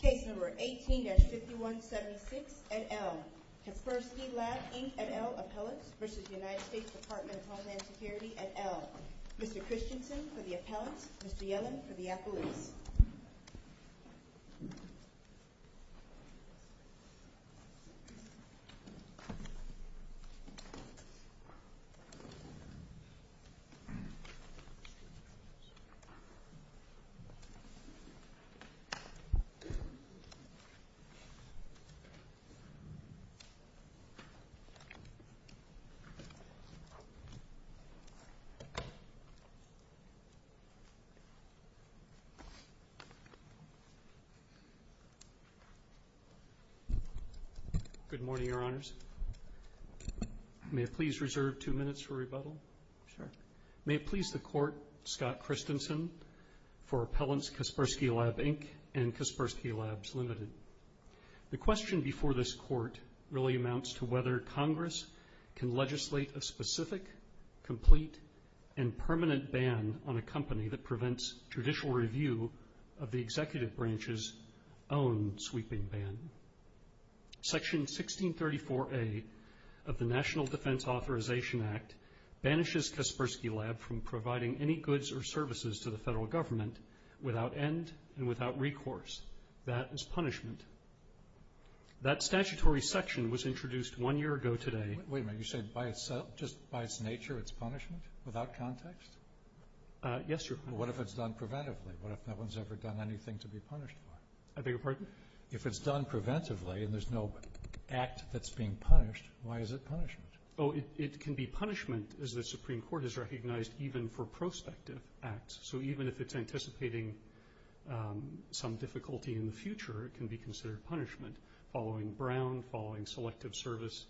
Case No. 18-5176, et al. Kaspersky Lab, Inc., et al. Appellants v. United States Department of Homeland Security, et al. Mr. Christensen for the appellants, Mr. Yellen for the appellees. Good morning, Your Honors. May it please reserve two minutes for rebuttal? May it please the Court, Scott Christensen, for appellants Kaspersky Lab, Inc. and Kaspersky Labs, Ltd. The question before this Court really amounts to whether Congress can legislate a specific, complete, and permanent ban on a company that prevents judicial review of the executive branch's own sweeping ban. Section 1634A of the National Defense Authorization Act banishes Kaspersky Lab from providing any goods or services to the federal government without end and without recourse. That is punishment. That statutory section was introduced one year ago today. Wait a minute. You say just by its nature it's punishment? Without context? Yes, Your Honor. What if it's done preventively? What if no one's ever done anything to be punished for? I beg your pardon? If it's done preventively and there's no act that's being punished, why is it punishment? Oh, it can be punishment, as the Supreme Court has recognized, even for prospective acts. So even if it's anticipating some difficulty in the future, it can be considered punishment following Brown, following Selective Service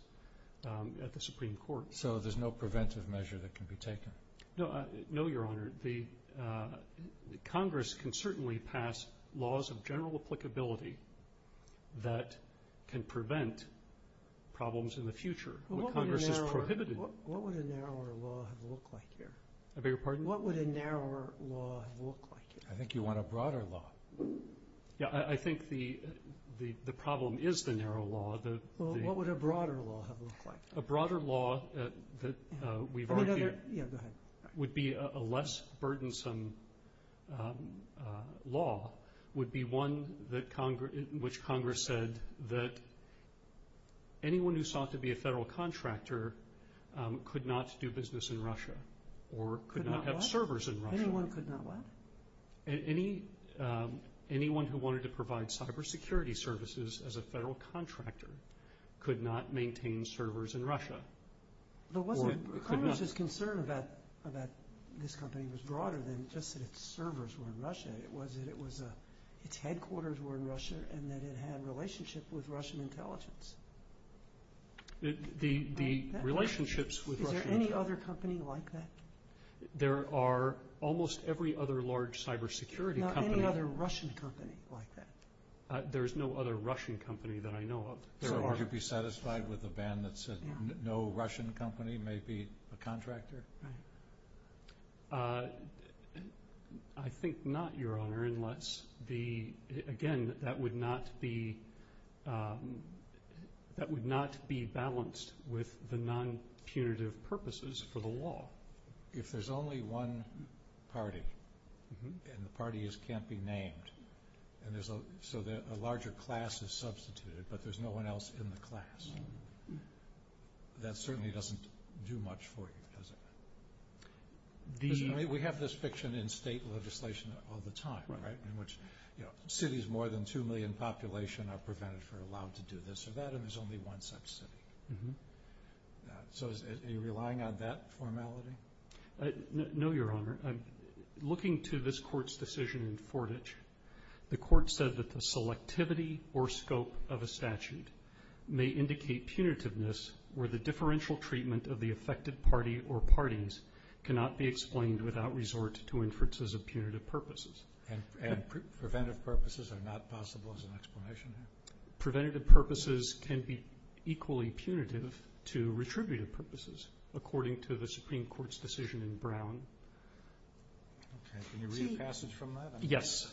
at the Supreme Court. So there's no preventive measure that can be taken? No, Your Honor. Congress can certainly pass laws of general applicability that can prevent problems in the future. What would a narrower law look like here? I beg your pardon? What would a narrower law look like here? I think you want a broader law. Yeah, I think the problem is the narrow law. What would a broader law look like? A broader law that we've argued would be a less burdensome law would be one in which Congress said that anyone who sought to be a federal contractor could not do business in Russia or could not have servers in Russia. Anyone could not what? Anyone who wanted to provide cybersecurity services as a federal contractor could not maintain servers in Russia. Congress's concern about this company was broader than just that its servers were in Russia. It was that its headquarters were in Russia and that it had a relationship with Russian intelligence. Is there any other company like that? There are almost every other large cybersecurity company. Not any other Russian company like that? There is no other Russian company that I know of. Would you be satisfied with a ban that said no Russian company may be a contractor? I think not, Your Honor. Again, that would not be balanced with the non-punitive purposes for the law. If there's only one party and the parties can't be named and so a larger class is substituted but there's no one else in the class, that certainly doesn't do much for you, does it? We have this fiction in state legislation all the time, right, in which cities with more than 2 million population are prevented from doing this or that and there's only one such city. So are you relying on that formality? No, Your Honor. Looking to this Court's decision in Fortitch, the Court said that the selectivity or scope of a statute may indicate punitiveness where the differential treatment of the affected party or parties cannot be explained without resort to inferences of punitive purposes. And preventive purposes are not possible as an explanation? Preventative purposes can be equally punitive to retributive purposes, according to the Supreme Court's decision in Brown. Can you read a passage from that? Yes.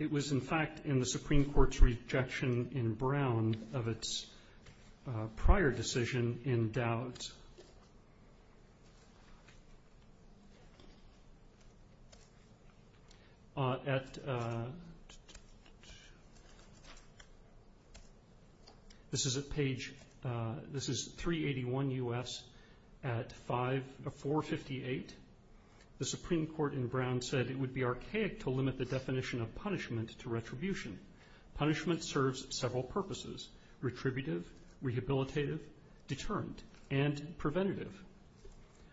It was, in fact, in the Supreme Court's rejection in Brown of its prior decision in Dowd's. This is page 381 U.S. at 458. The Supreme Court in Brown said it would be archaic to limit the definition of punishment to retribution. Punishment serves several purposes, retributive, rehabilitative, deterrent, and preventative.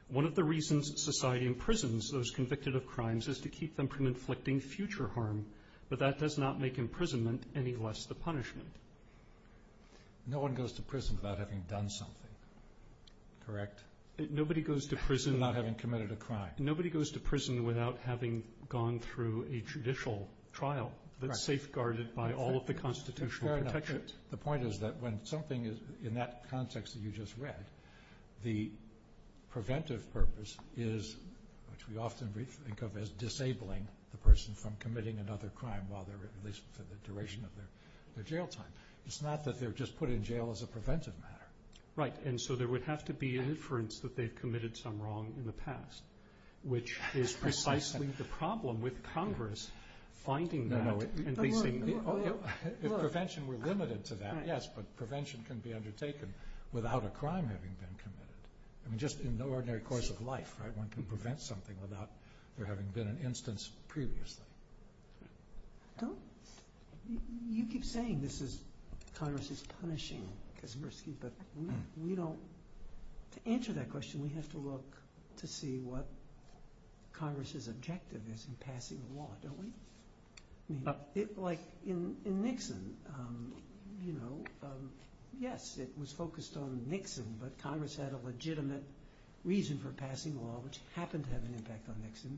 One of the reasons society imprisons those convicted of crimes is to keep them from inflicting future harm, but that does not make imprisonment any less the punishment. No one goes to prison without having done something, correct? Nobody goes to prison without having committed a crime. Nobody goes to prison without having gone through a judicial trial that's safeguarded by all of the constitutional protections. The point is that when something is, in that context that you just read, the preventive purpose is, which we often think of as disabling, the person from committing another crime, while they're at least for the duration of their jail time. It's not that they're just put in jail as a preventive matter. Right, and so there would have to be an inference that they've committed some wrong in the past, which is precisely the problem with Congress finding that. If prevention were limited to that, yes, but prevention can be undertaken without a crime having been committed. I mean, just in the ordinary course of life, right? One can prevent something without there having been an instance previously. You keep saying this is, Congress is punishing Kaczmarski, but we don't, to answer that question, we have to look to see what Congress's objective is in passing the law, don't we? Like, in Nixon, you know, yes, it was focused on Nixon, but Congress had a legitimate reason for passing law, which happened to have an impact on Nixon,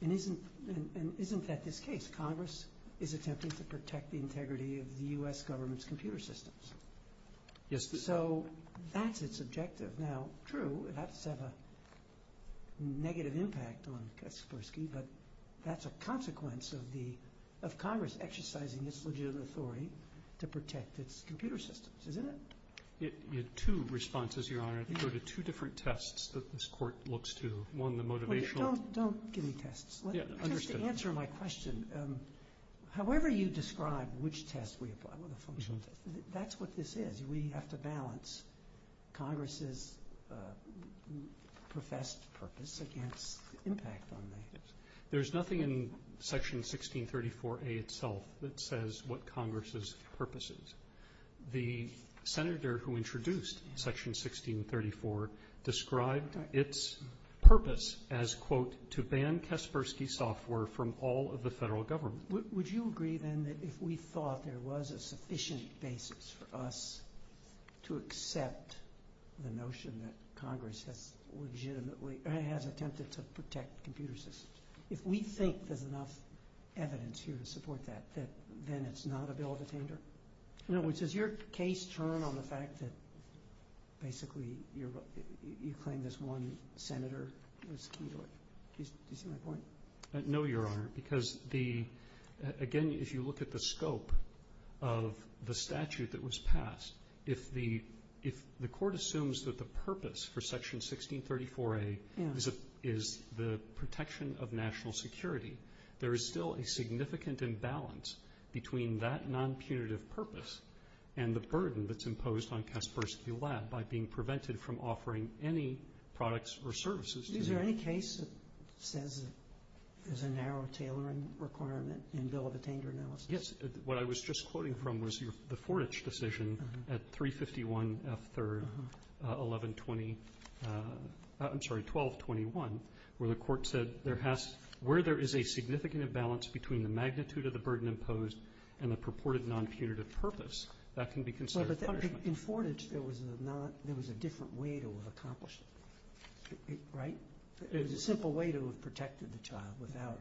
and isn't that this case? Congress is attempting to protect the integrity of the U.S. government's computer systems. So, that's its objective. But that's a consequence of Congress exercising its legitimate authority to protect its computer systems, isn't it? You had two responses, Your Honor. You go to two different tests that this court looks to. One, the motivational. Don't give me tests. Just to answer my question, however you describe which test we apply, that's what this is. We have to balance Congress's professed purpose against the impact on Nixon. There's nothing in Section 1634A itself that says what Congress's purpose is. The senator who introduced Section 1634 described its purpose as, quote, to ban Kaczmarski software from all of the federal government. Would you agree, then, that if we thought there was a sufficient basis for us to accept the notion that Congress has attempted to protect computer systems, if we think there's enough evidence here to support that, then it's not a bill of attainder? In other words, does your case turn on the fact that, basically, you claim this one senator was key to it? Do you see my point? No, Your Honor, because, again, if you look at the scope of the statute that was passed, if the court assumes that the purpose for Section 1634A is the protection of national security, there is still a significant imbalance between that non-punitive purpose and the burden that's imposed on Kaczmarski Lab Is there any case that says there's a narrow tailoring requirement in the bill of attainder analysis? Yes. What I was just quoting from was the Fortich decision at 351 F. 3rd, 1120, I'm sorry, 1221, where the court said where there is a significant imbalance between the magnitude of the burden imposed and the purported non-punitive purpose, that can be considered punishment. In Fortich, there was a different way to have accomplished it, right? There was a simple way to have protected the child without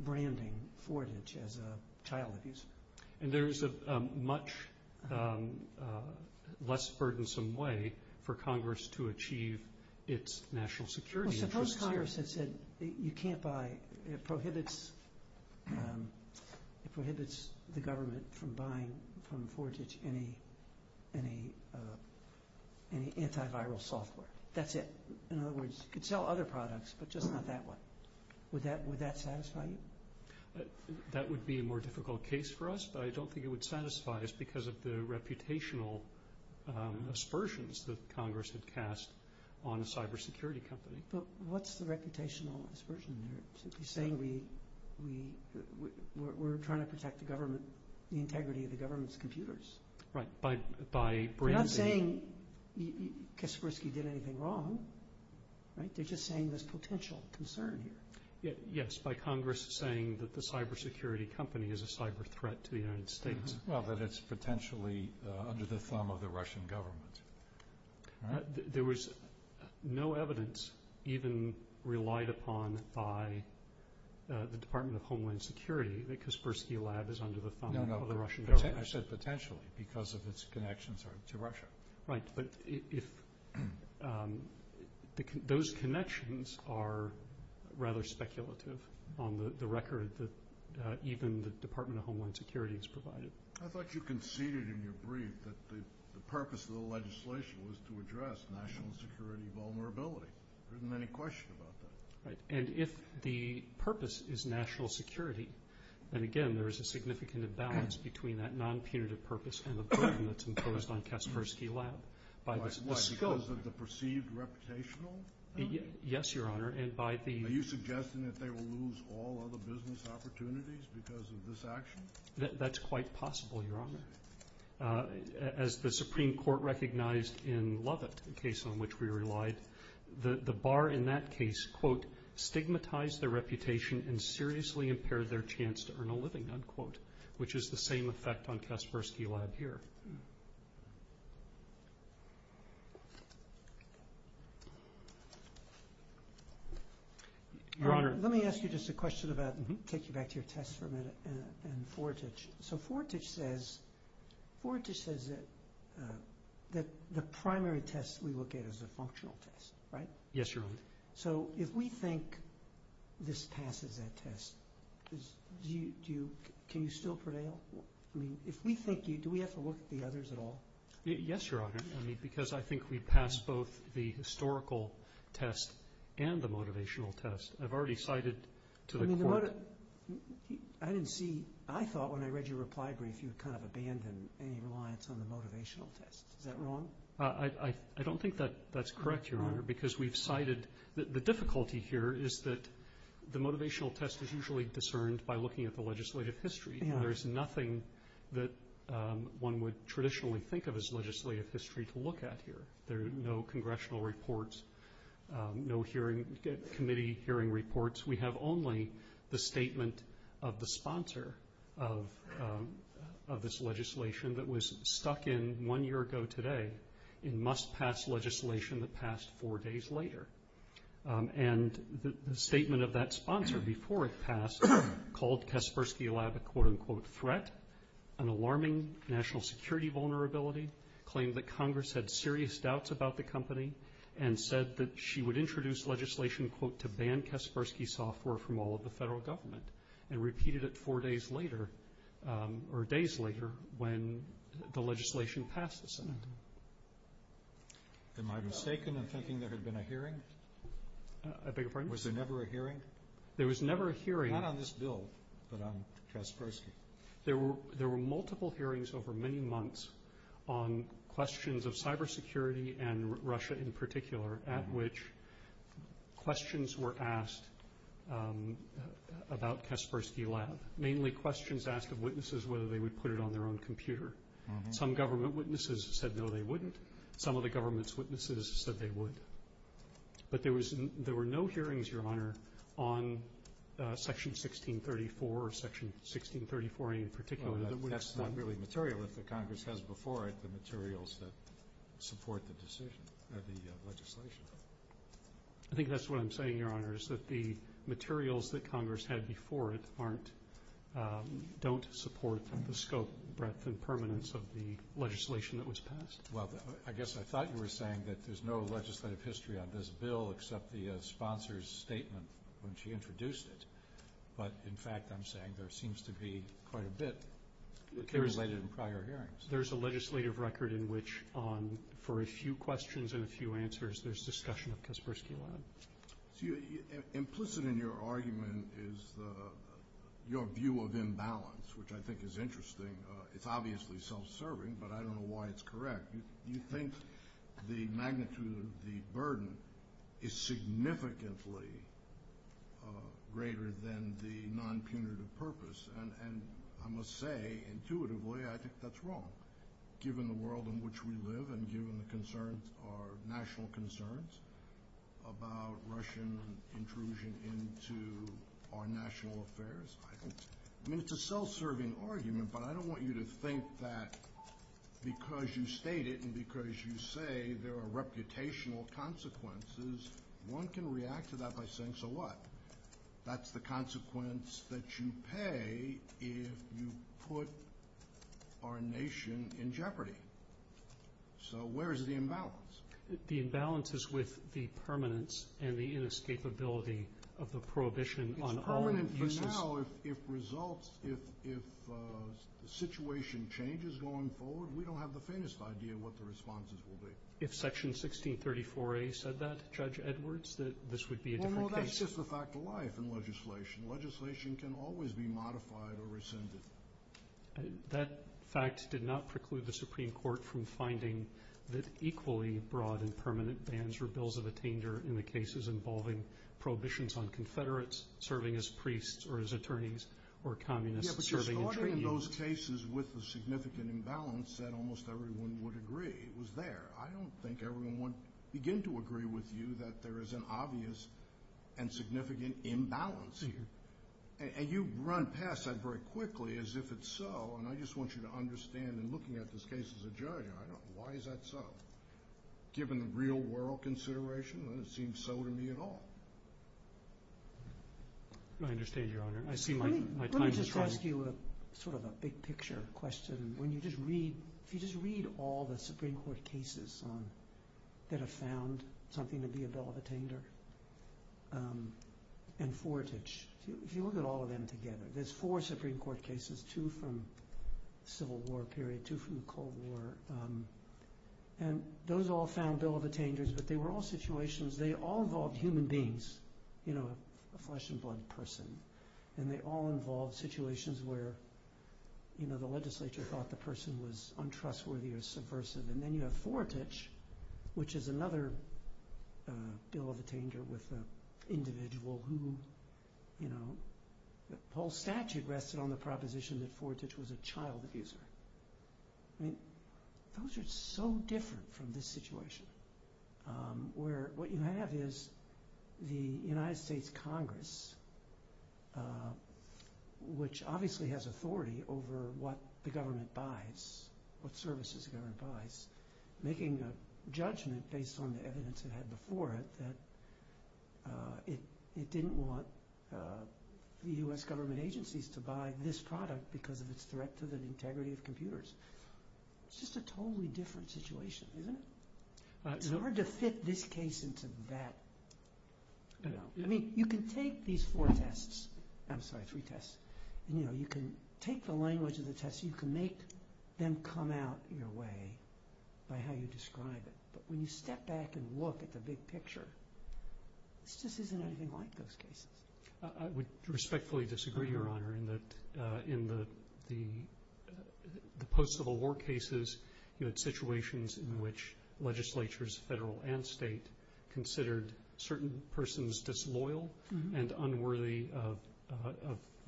branding Fortich as a child abuse. And there is a much less burdensome way for Congress to achieve its national security interests. Well, suppose Congress had said, you can't buy, it prohibits the government from buying from Fortich any antiviral software. That's it. In other words, you could sell other products, but just not that one. Would that satisfy you? That would be a more difficult case for us, but I don't think it would satisfy us because of the reputational aspersions that Congress had cast on a cybersecurity company. But what's the reputational aspersion? You're saying we're trying to protect the integrity of the government's computers. Right. You're not saying Kaspersky did anything wrong, right? You're just saying there's potential concern here. Yes, by Congress saying that the cybersecurity company is a cyber threat to the United States. Well, that it's potentially under the thumb of the Russian government. There was no evidence even relied upon by the Department of Homeland Security that Kaspersky Lab is under the thumb of the Russian government. I said potentially because of its connections to Russia. Right, but those connections are rather speculative on the record that even the Department of Homeland Security has provided. I thought you conceded in your brief that the purpose of the legislation was to address national security vulnerability. There isn't any question about that. And if the purpose is national security, then again there is a significant imbalance between that non-punitive purpose and the burden that's imposed on Kaspersky Lab. Why, because of the perceived reputational? Yes, Your Honor. Are you suggesting that they will lose all other business opportunities because of this action? That's quite possible, Your Honor. As the Supreme Court recognized in Lovett, a case on which we relied, the bar in that case, quote, stigmatized their reputation and seriously impaired their chance to earn a living, unquote, which is the same effect on Kaspersky Lab here. Your Honor. Let me ask you just a question about, take you back to your test for a minute, and Fortich. So Fortich says that the primary test we look at is a functional test, right? Yes, Your Honor. So if we think this passes that test, can you still prevail? I mean, if we think, do we have to look at the others at all? Yes, Your Honor. I mean, because I think we passed both the historical test and the motivational test. I've already cited to the court. I didn't see, I thought when I read your reply brief you kind of abandoned any reliance on the motivational test. Is that wrong? I don't think that's correct, Your Honor, because we've cited, the difficulty here is that the motivational test is usually discerned by looking at the legislative history. There's nothing that one would traditionally think of as legislative history to look at here. There are no congressional reports, no hearing, committee hearing reports. We have only the statement of the sponsor of this legislation that was stuck in one year ago today in must-pass legislation that passed four days later. And the statement of that sponsor before it passed called Kaspersky Lab a quote-unquote threat, an alarming national security vulnerability, claimed that Congress had serious doubts about the company, and said that she would introduce legislation, quote, to ban Kaspersky software from all of the federal government and repeated it four days later or days later when the legislation passed the Senate. Am I mistaken in thinking there had been a hearing? I beg your pardon? Was there never a hearing? There was never a hearing. Not on this bill, but on Kaspersky. There were multiple hearings over many months on questions of cybersecurity and Russia in particular at which questions were asked about Kaspersky Lab, mainly questions asked of witnesses whether they would put it on their own computer. Some government witnesses said no they wouldn't. Some of the government's witnesses said they would. But there were no hearings, Your Honor, on Section 1634 or Section 1634A in particular. That's not really material. If the Congress has before it the materials that support the decision or the legislation. I think that's what I'm saying, Your Honor, is that the materials that Congress had before it don't support the scope, breadth, and permanence of the legislation that was passed. Well, I guess I thought you were saying that there's no legislative history on this bill except the sponsor's statement when she introduced it. But, in fact, I'm saying there seems to be quite a bit related to prior hearings. There's a legislative record in which for a few questions and a few answers, there's discussion of Kaspersky Lab. Implicit in your argument is your view of imbalance, which I think is interesting. It's obviously self-serving, but I don't know why it's correct. You think the magnitude of the burden is significantly greater than the non-punitive purpose. And I must say intuitively I think that's wrong, given the world in which we live and given the concerns, our national concerns about Russian intrusion into our national affairs. I mean, it's a self-serving argument, but I don't want you to think that because you state it and because you say there are reputational consequences, one can react to that by saying so what? That's the consequence that you pay if you put our nation in jeopardy. So where is the imbalance? The imbalance is with the permanence and the inescapability of the prohibition on all uses. So now if results, if the situation changes going forward, we don't have the faintest idea what the responses will be. If Section 1634A said that, Judge Edwards, that this would be a different case. Well, no, that's just a fact of life in legislation. Legislation can always be modified or rescinded. That fact did not preclude the Supreme Court from finding that equally broad and permanent bans were bills of attainder in the cases involving prohibitions on Confederates, serving as priests or as attorneys, or communists serving in trade unions. Yeah, but you're starting in those cases with the significant imbalance that almost everyone would agree was there. I don't think everyone would begin to agree with you that there is an obvious and significant imbalance here. And you run past that very quickly as if it's so, and I just want you to understand in looking at this case as a judge, why is that so? Given the real-world consideration, it doesn't seem so to me at all. I understand, Your Honor. I see my time is running. Let me just ask you sort of a big-picture question. When you just read, if you just read all the Supreme Court cases that have found something to be a bill of attainder, and Fortage, if you look at all of them together, there's four Supreme Court cases, two from the Civil War period, two from the Cold War, and those all found bill of attainders, but they were all situations. They all involved human beings, you know, a flesh-and-blood person, and they all involved situations where, you know, the legislature thought the person was untrustworthy or subversive. And then you have Fortage, which is another bill of attainder with an individual who, you know, the whole statute rested on the proposition that Fortage was a child abuser. I mean, those are so different from this situation, where what you have is the United States Congress, which obviously has authority over what the government buys, what services the government buys, making a judgment based on the evidence it had before it that it didn't want the U.S. government agencies to buy this product because of its threat to the integrity of computers. It's just a totally different situation, isn't it? It's hard to fit this case into that, you know. I mean, you can take these four tests. I'm sorry, three tests. You know, you can take the language of the tests. You can make them come out your way by how you describe it. But when you step back and look at the big picture, this just isn't anything like those cases. I would respectfully disagree, Your Honor, in that in the post-Civil War cases, you had situations in which legislatures, federal and state, considered certain persons disloyal and unworthy of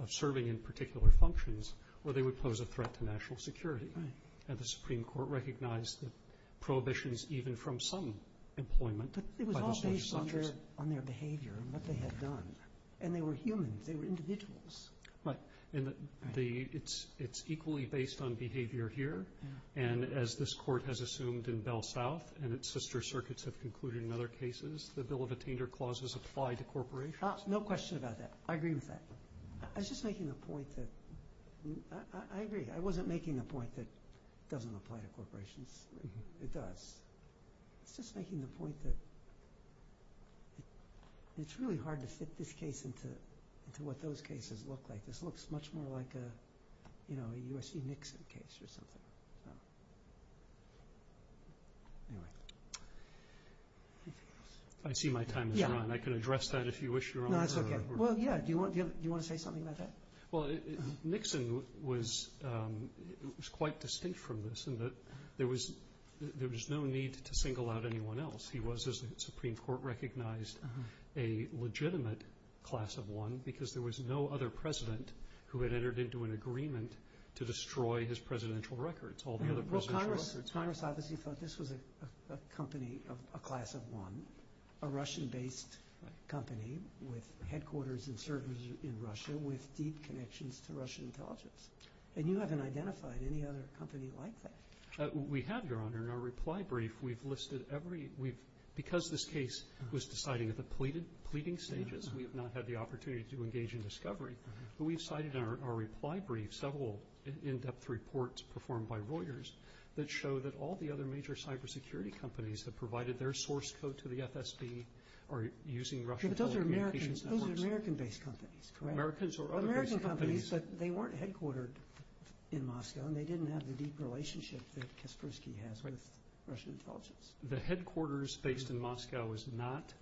serving in particular functions or they would pose a threat to national security. And the Supreme Court recognized the prohibitions even from some employment. But it was all based on their behavior and what they had done. And they were humans. They were individuals. Right. And it's equally based on behavior here. And as this Court has assumed in Bell South and its sister circuits have concluded in other cases, the Bill of Attainer clauses apply to corporations. No question about that. I agree with that. I was just making the point that I agree. I wasn't making the point that it doesn't apply to corporations. It does. I was just making the point that it's really hard to fit this case into what those cases look like. This looks much more like a U.S.C. Nixon case or something. Anyway. I see my time has run. I can address that if you wish, Your Honor. That's okay. Well, yeah, do you want to say something about that? Well, Nixon was quite distinct from this in that there was no need to single out anyone else. He was, as the Supreme Court recognized, a legitimate class of one because there was no other president who had entered into an agreement to destroy his presidential records, all the other presidential records. Congress obviously thought this was a company, a class of one, a Russian-based company with headquarters and servers in Russia with deep connections to Russian intelligence. And you haven't identified any other company like that. We have, Your Honor. In our reply brief, we've listed every— because this case was decided at the pleading stages, we have not had the opportunity to engage in discovery. But we've cited in our reply brief several in-depth reports performed by Reuters that show that all the other major cybersecurity companies that provided their source code to the FSB are using Russian telecommunications networks. Yeah, but those are American-based companies, correct? Americans or other based companies. American companies, but they weren't headquartered in Moscow and they didn't have the deep relationship that Kaspersky has with Russian intelligence. The headquarters based in Moscow is not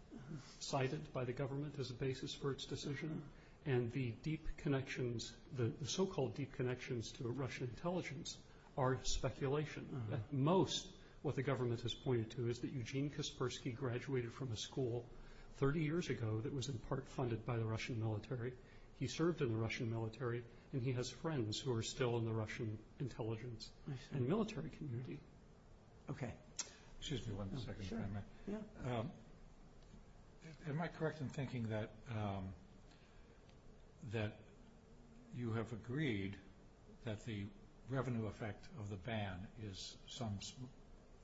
cited by the government as a basis for its decision. And the deep connections, the so-called deep connections to Russian intelligence are speculation. At most, what the government has pointed to is that Eugene Kaspersky graduated from a school 30 years ago that was in part funded by the Russian military. He served in the Russian military, and he has friends who are still in the Russian intelligence and military community. Okay. Excuse me one second. Am I correct in thinking that you have agreed that the revenue effect of the ban is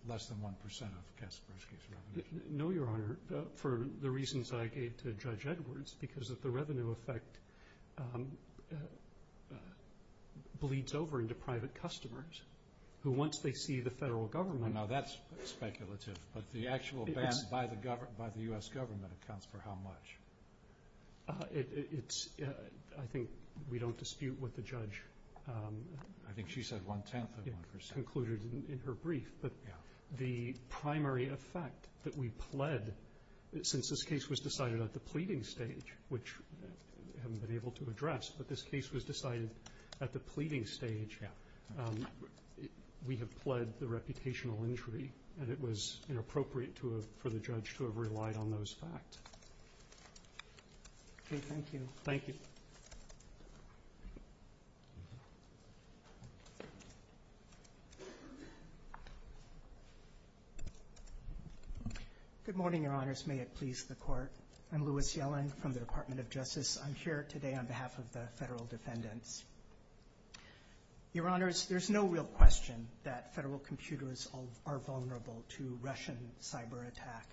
less than 1% of Kaspersky's revenue? No, Your Honor, for the reasons I gave to Judge Edwards, because if the revenue effect bleeds over into private customers, who once they see the federal government Oh, no, that's speculative. But the actual ban by the U.S. government accounts for how much? I think we don't dispute what the judge I think she said one-tenth of 1%. concluded in her brief. But the primary effect that we pled, since this case was decided at the pleading stage, which I haven't been able to address, but this case was decided at the pleading stage, we have pled the reputational injury, and it was inappropriate for the judge to have relied on those facts. Okay, thank you. Thank you. Good morning, Your Honors. May it please the Court. I'm Louis Yellen from the Department of Justice. I'm here today on behalf of the federal defendants. Your Honors, there's no real question that federal computers are vulnerable to Russian cyber attack,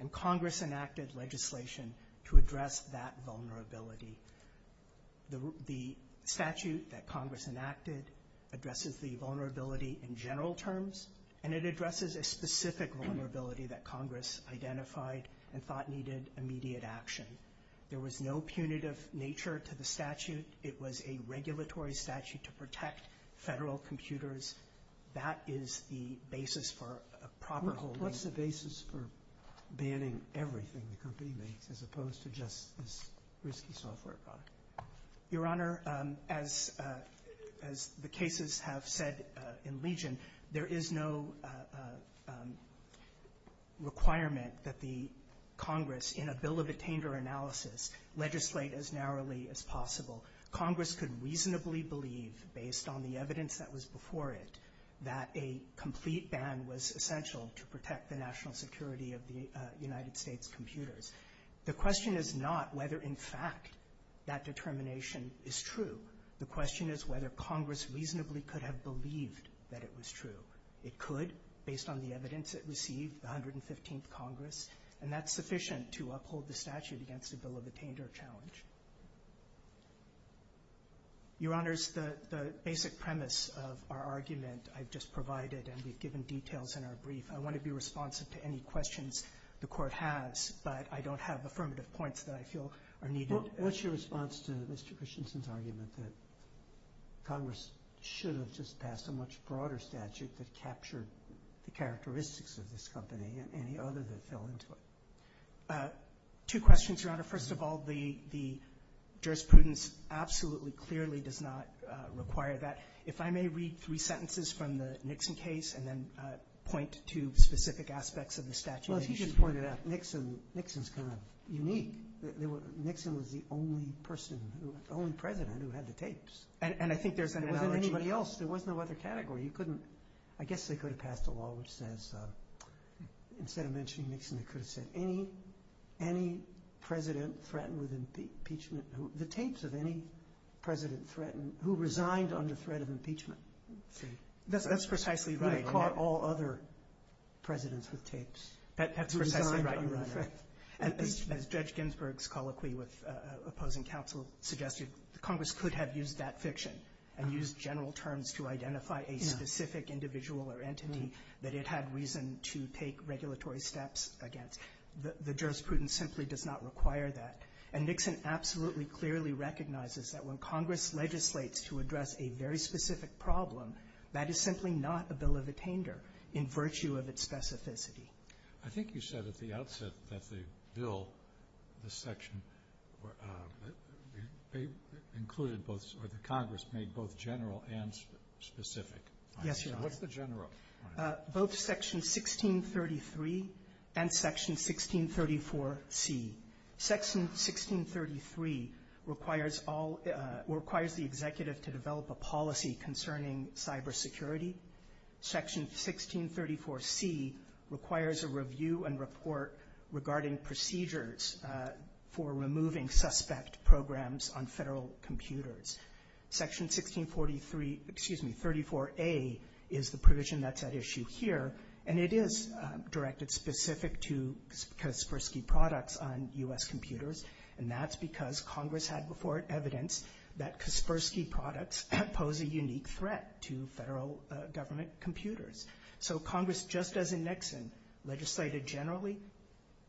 and Congress enacted legislation to address that vulnerability. The statute that Congress enacted addresses the vulnerability in general terms, and it addresses a specific vulnerability that Congress identified and thought needed immediate action. There was no punitive nature to the statute. It was a regulatory statute to protect federal computers. That is the basis for a proper holding. What's the basis for banning everything the company makes as opposed to just this risky software product? Your Honor, as the cases have said in Legion, there is no requirement that the Congress, in a bill of attainder analysis, legislate as narrowly as possible. Congress could reasonably believe, based on the evidence that was before it, that a complete ban was essential to protect the national security of the United States computers. The question is not whether, in fact, that determination is true. The question is whether Congress reasonably could have believed that it was true. It could, based on the evidence it received, the 115th Congress, and that's sufficient to uphold the statute against a bill of attainder challenge. Your Honors, the basic premise of our argument I've just provided, and we've given details in our brief, I want to be responsive to any questions the Court has, but I don't have affirmative points that I feel are needed. What's your response to Mr. Christensen's argument that Congress should have just passed a much broader statute that captured the characteristics of this company and any others that fell into it? Two questions, Your Honor. First of all, the jurisprudence absolutely clearly does not require that. If I may read three sentences from the Nixon case and then point to specific aspects of the statute. Well, as he just pointed out, Nixon's kind of unique. Nixon was the only person, the only president who had the tapes. And I think there's an analogy. There wasn't anybody else. There was no other category. I guess they could have passed a law which says, instead of mentioning Nixon, they could have said any president threatened with impeachment. The tapes of any president threatened, who resigned under threat of impeachment. That's precisely right. Who caught all other presidents with tapes. That's precisely right, Your Honor. As Judge Ginsburg's colloquy with opposing counsel suggested, Congress could have used that fiction and used general terms to identify a specific individual or entity that it had reason to take regulatory steps against. The jurisprudence simply does not require that. And Nixon absolutely clearly recognizes that when Congress legislates to address a very specific problem, that is simply not a bill of attainder in virtue of its specificity. The Congress made both general and specific. Yes, Your Honor. What's the general? Both Section 1633 and Section 1634C. Section 1633 requires the executive to develop a policy concerning cybersecurity. Section 1634C requires a review and report regarding procedures for removing suspect programs on federal computers. Section 1643, excuse me, 34A is the provision that's at issue here, and it is directed specific to Kaspersky products on U.S. computers, that Kaspersky products pose a unique threat to federal government computers. So Congress, just as in Nixon, legislated generally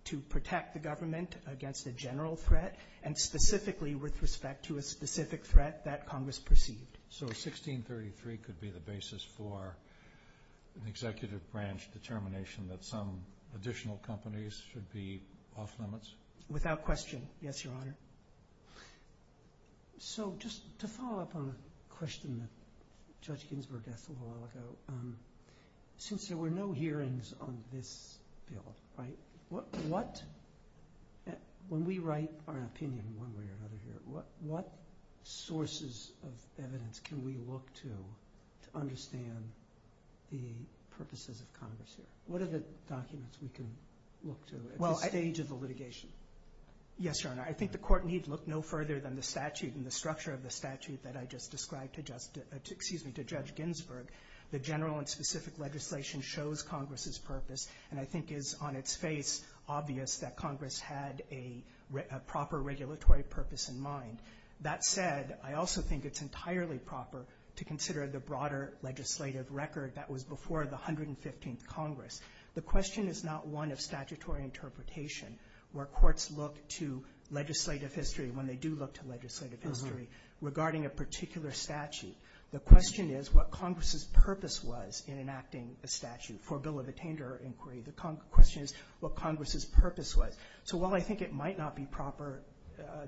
to protect the government against a general threat and specifically with respect to a specific threat that Congress perceived. So 1633 could be the basis for an executive branch determination that some additional companies should be off limits? Without question, yes, Your Honor. So just to follow up on a question that Judge Ginsburg asked a little while ago, since there were no hearings on this bill, when we write our opinion one way or another here, what sources of evidence can we look to to understand the purposes of Congress here? What are the documents we can look to at this stage of the litigation? Yes, Your Honor. I think the Court need look no further than the statute and the structure of the statute that I just described to Judge Ginsburg. The general and specific legislation shows Congress's purpose and I think is on its face obvious that Congress had a proper regulatory purpose in mind. That said, I also think it's entirely proper to consider the broader legislative record that was before the 115th Congress. The question is not one of statutory interpretation where courts look to legislative history when they do look to legislative history regarding a particular statute. The question is what Congress's purpose was in enacting a statute for a bill of attainder inquiry. The question is what Congress's purpose was. So while I think it might not be proper,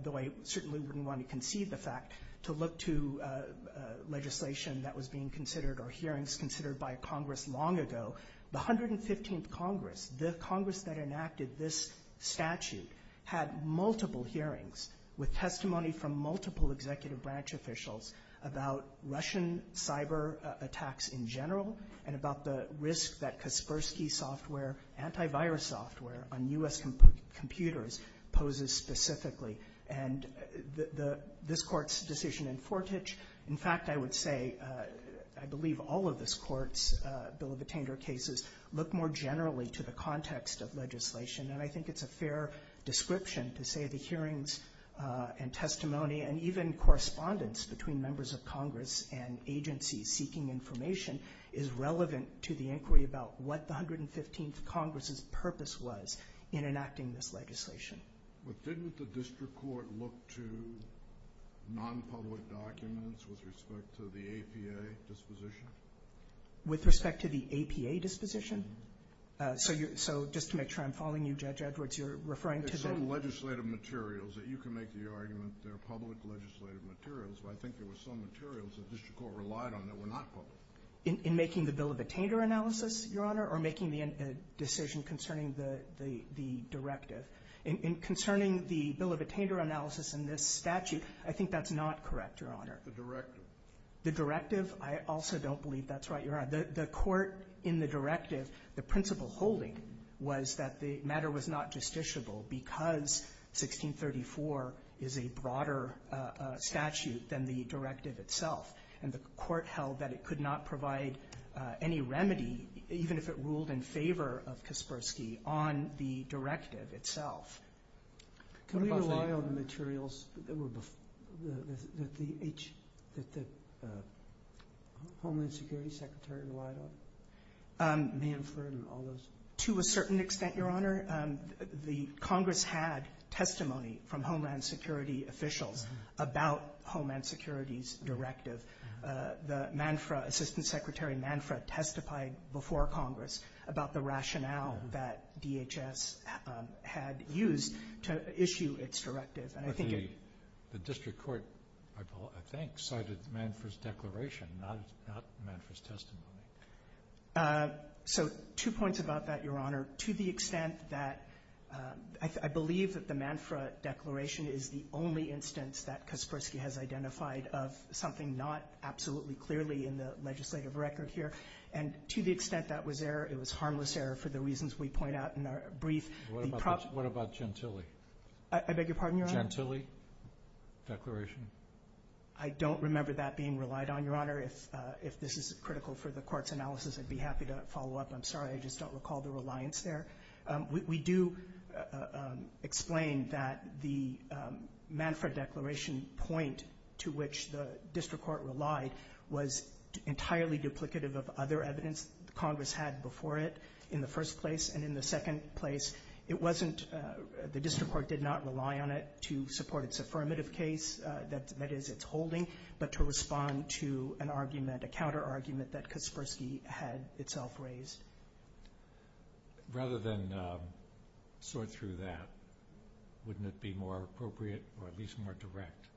though I certainly wouldn't want to conceive the fact, to look to legislation that was being considered or hearings considered by Congress long ago, the 115th Congress, the Congress that enacted this statute, had multiple hearings with testimony from multiple executive branch officials about Russian cyber attacks in general and about the risk that Kaspersky software, antivirus software on U.S. computers poses specifically. And this Court's decision in Fortich, in fact, I would say, I believe all of this Court's bill of attainder cases look more generally to the context of legislation. And I think it's a fair description to say the hearings and testimony and even correspondence between members of Congress and agencies seeking information is relevant to the inquiry about what the 115th Congress's purpose was in enacting this legislation. But didn't the district court look to non-public documents with respect to the APA disposition? With respect to the APA disposition? So just to make sure I'm following you, Judge Edwards, you're referring to the... There's some legislative materials that you can make the argument they're public legislative materials, but I think there were some materials the district court relied on that were not public. In making the bill of attainder analysis, Your Honor, or making the decision concerning the directive. In concerning the bill of attainder analysis in this statute, I think that's not correct, Your Honor. The directive. The directive? I also don't believe that's right, Your Honor. The court in the directive, the principle holding was that the matter was not justiciable because 1634 is a broader statute than the directive itself. And the court held that it could not provide any remedy, even if it ruled in favor of Kaspersky, on the directive itself. Can we rely on the materials that the Homeland Security Secretary relied on? Manfra and all those? To a certain extent, Your Honor. The Congress had testimony from Homeland Security officials about Homeland Security's directive. The Manfra, Assistant Secretary Manfra, testified before Congress about the rationale that DHS had used to issue its directive. But the district court, I think, cited Manfra's declaration, not Manfra's testimony. So two points about that, Your Honor. To the extent that I believe that the Manfra declaration is the only instance that Kaspersky has identified of something not absolutely clearly in the legislative record here, and to the extent that was there, it was harmless error for the reasons we point out in our brief. What about Gentile? I beg your pardon, Your Honor? Gentile declaration? I don't remember that being relied on, Your Honor. If this is critical for the court's analysis, I'd be happy to follow up. I'm sorry, I just don't recall the reliance there. We do explain that the Manfra declaration point to which the district court relied was entirely duplicative of other evidence Congress had before it in the first place. And in the second place, it wasn't the district court did not rely on it to support its affirmative case, that is, its holding, but to respond to an argument, a counterargument that Kaspersky had itself raised. Rather than sort through that, wouldn't it be more appropriate, or at least more direct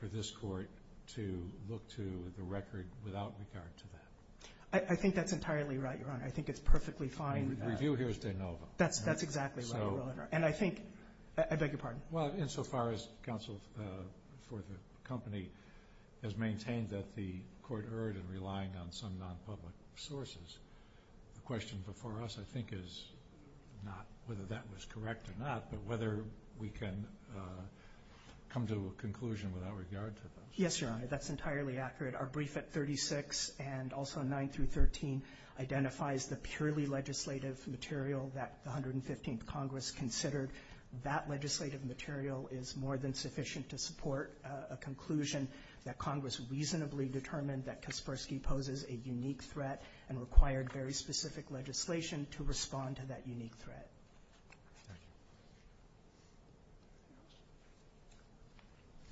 for this court to look to the record without regard to that? I think that's entirely right, Your Honor. I think it's perfectly fine. The review here is de novo. That's exactly right, Your Honor. And I think, I beg your pardon? Well, insofar as counsel for the company has maintained that the court erred in relying on some non-public sources, the question before us I think is not whether that was correct or not, but whether we can come to a conclusion without regard to that. Yes, Your Honor. That's entirely accurate. Our brief at 36 and also 9 through 13 identifies the purely legislative material that the 115th Congress considered. That legislative material is more than sufficient to support a conclusion that Congress reasonably determined that Kaspersky poses a unique threat and required very specific legislation to respond to that unique threat. Thank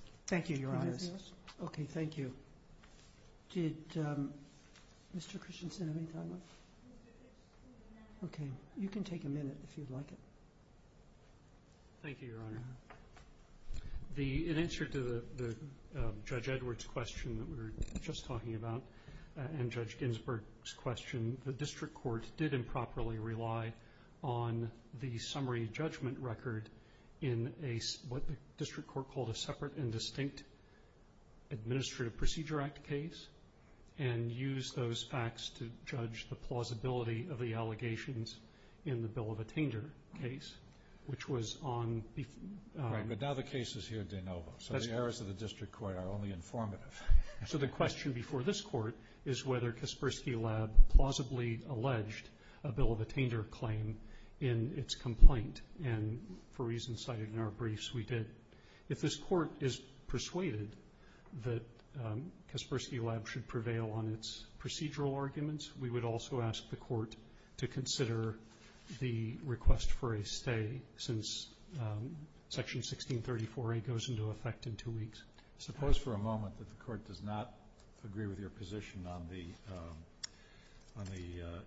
you. Thank you, Your Honors. Okay, thank you. Did Mr. Christensen have any time left? Okay. You can take a minute if you'd like. Thank you, Your Honor. In answer to Judge Edwards' question that we were just talking about and Judge Ginsburg's question, the district court did improperly rely on the summary judgment record in what the district court called a separate and distinct Administrative Procedure Act case and used those facts to judge the plausibility of the allegations in the bill of attainder case, which was on the- Right, but now the case is here de novo, so the errors of the district court are only informative. So the question before this court is whether Kaspersky Lab plausibly alleged a bill of attainder claim in its complaint, and for reasons cited in our briefs, we did. If this court is persuaded that Kaspersky Lab should prevail on its procedural arguments, we would also ask the court to consider the request for a stay since Section 1634A goes into effect in two weeks. Suppose for a moment that the court does not agree with your position on the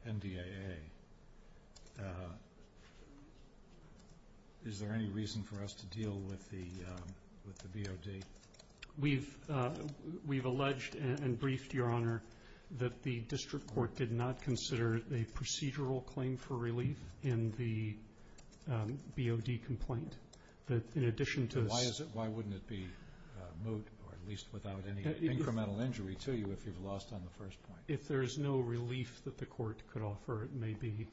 NDAA. Is there any reason for us to deal with the BOD? We've alleged and briefed, Your Honor, that the district court did not consider a procedural claim for relief in the BOD complaint. Why wouldn't it be moot, or at least without any incremental injury to you if you've lost on the first point? If there's no relief that the court could offer, it may be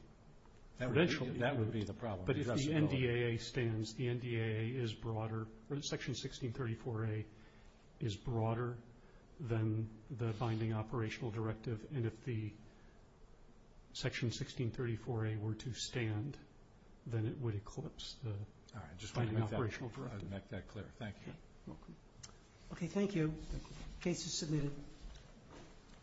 credentialed. That would be the problem. But if the NDAA stands, the NDAA is broader. Section 1634A is broader than the binding operational directive, and if the Section 1634A were to stand, then it would eclipse the binding operational directive. All right, just want to make that clear. Thank you. Okay, thank you. Case is submitted.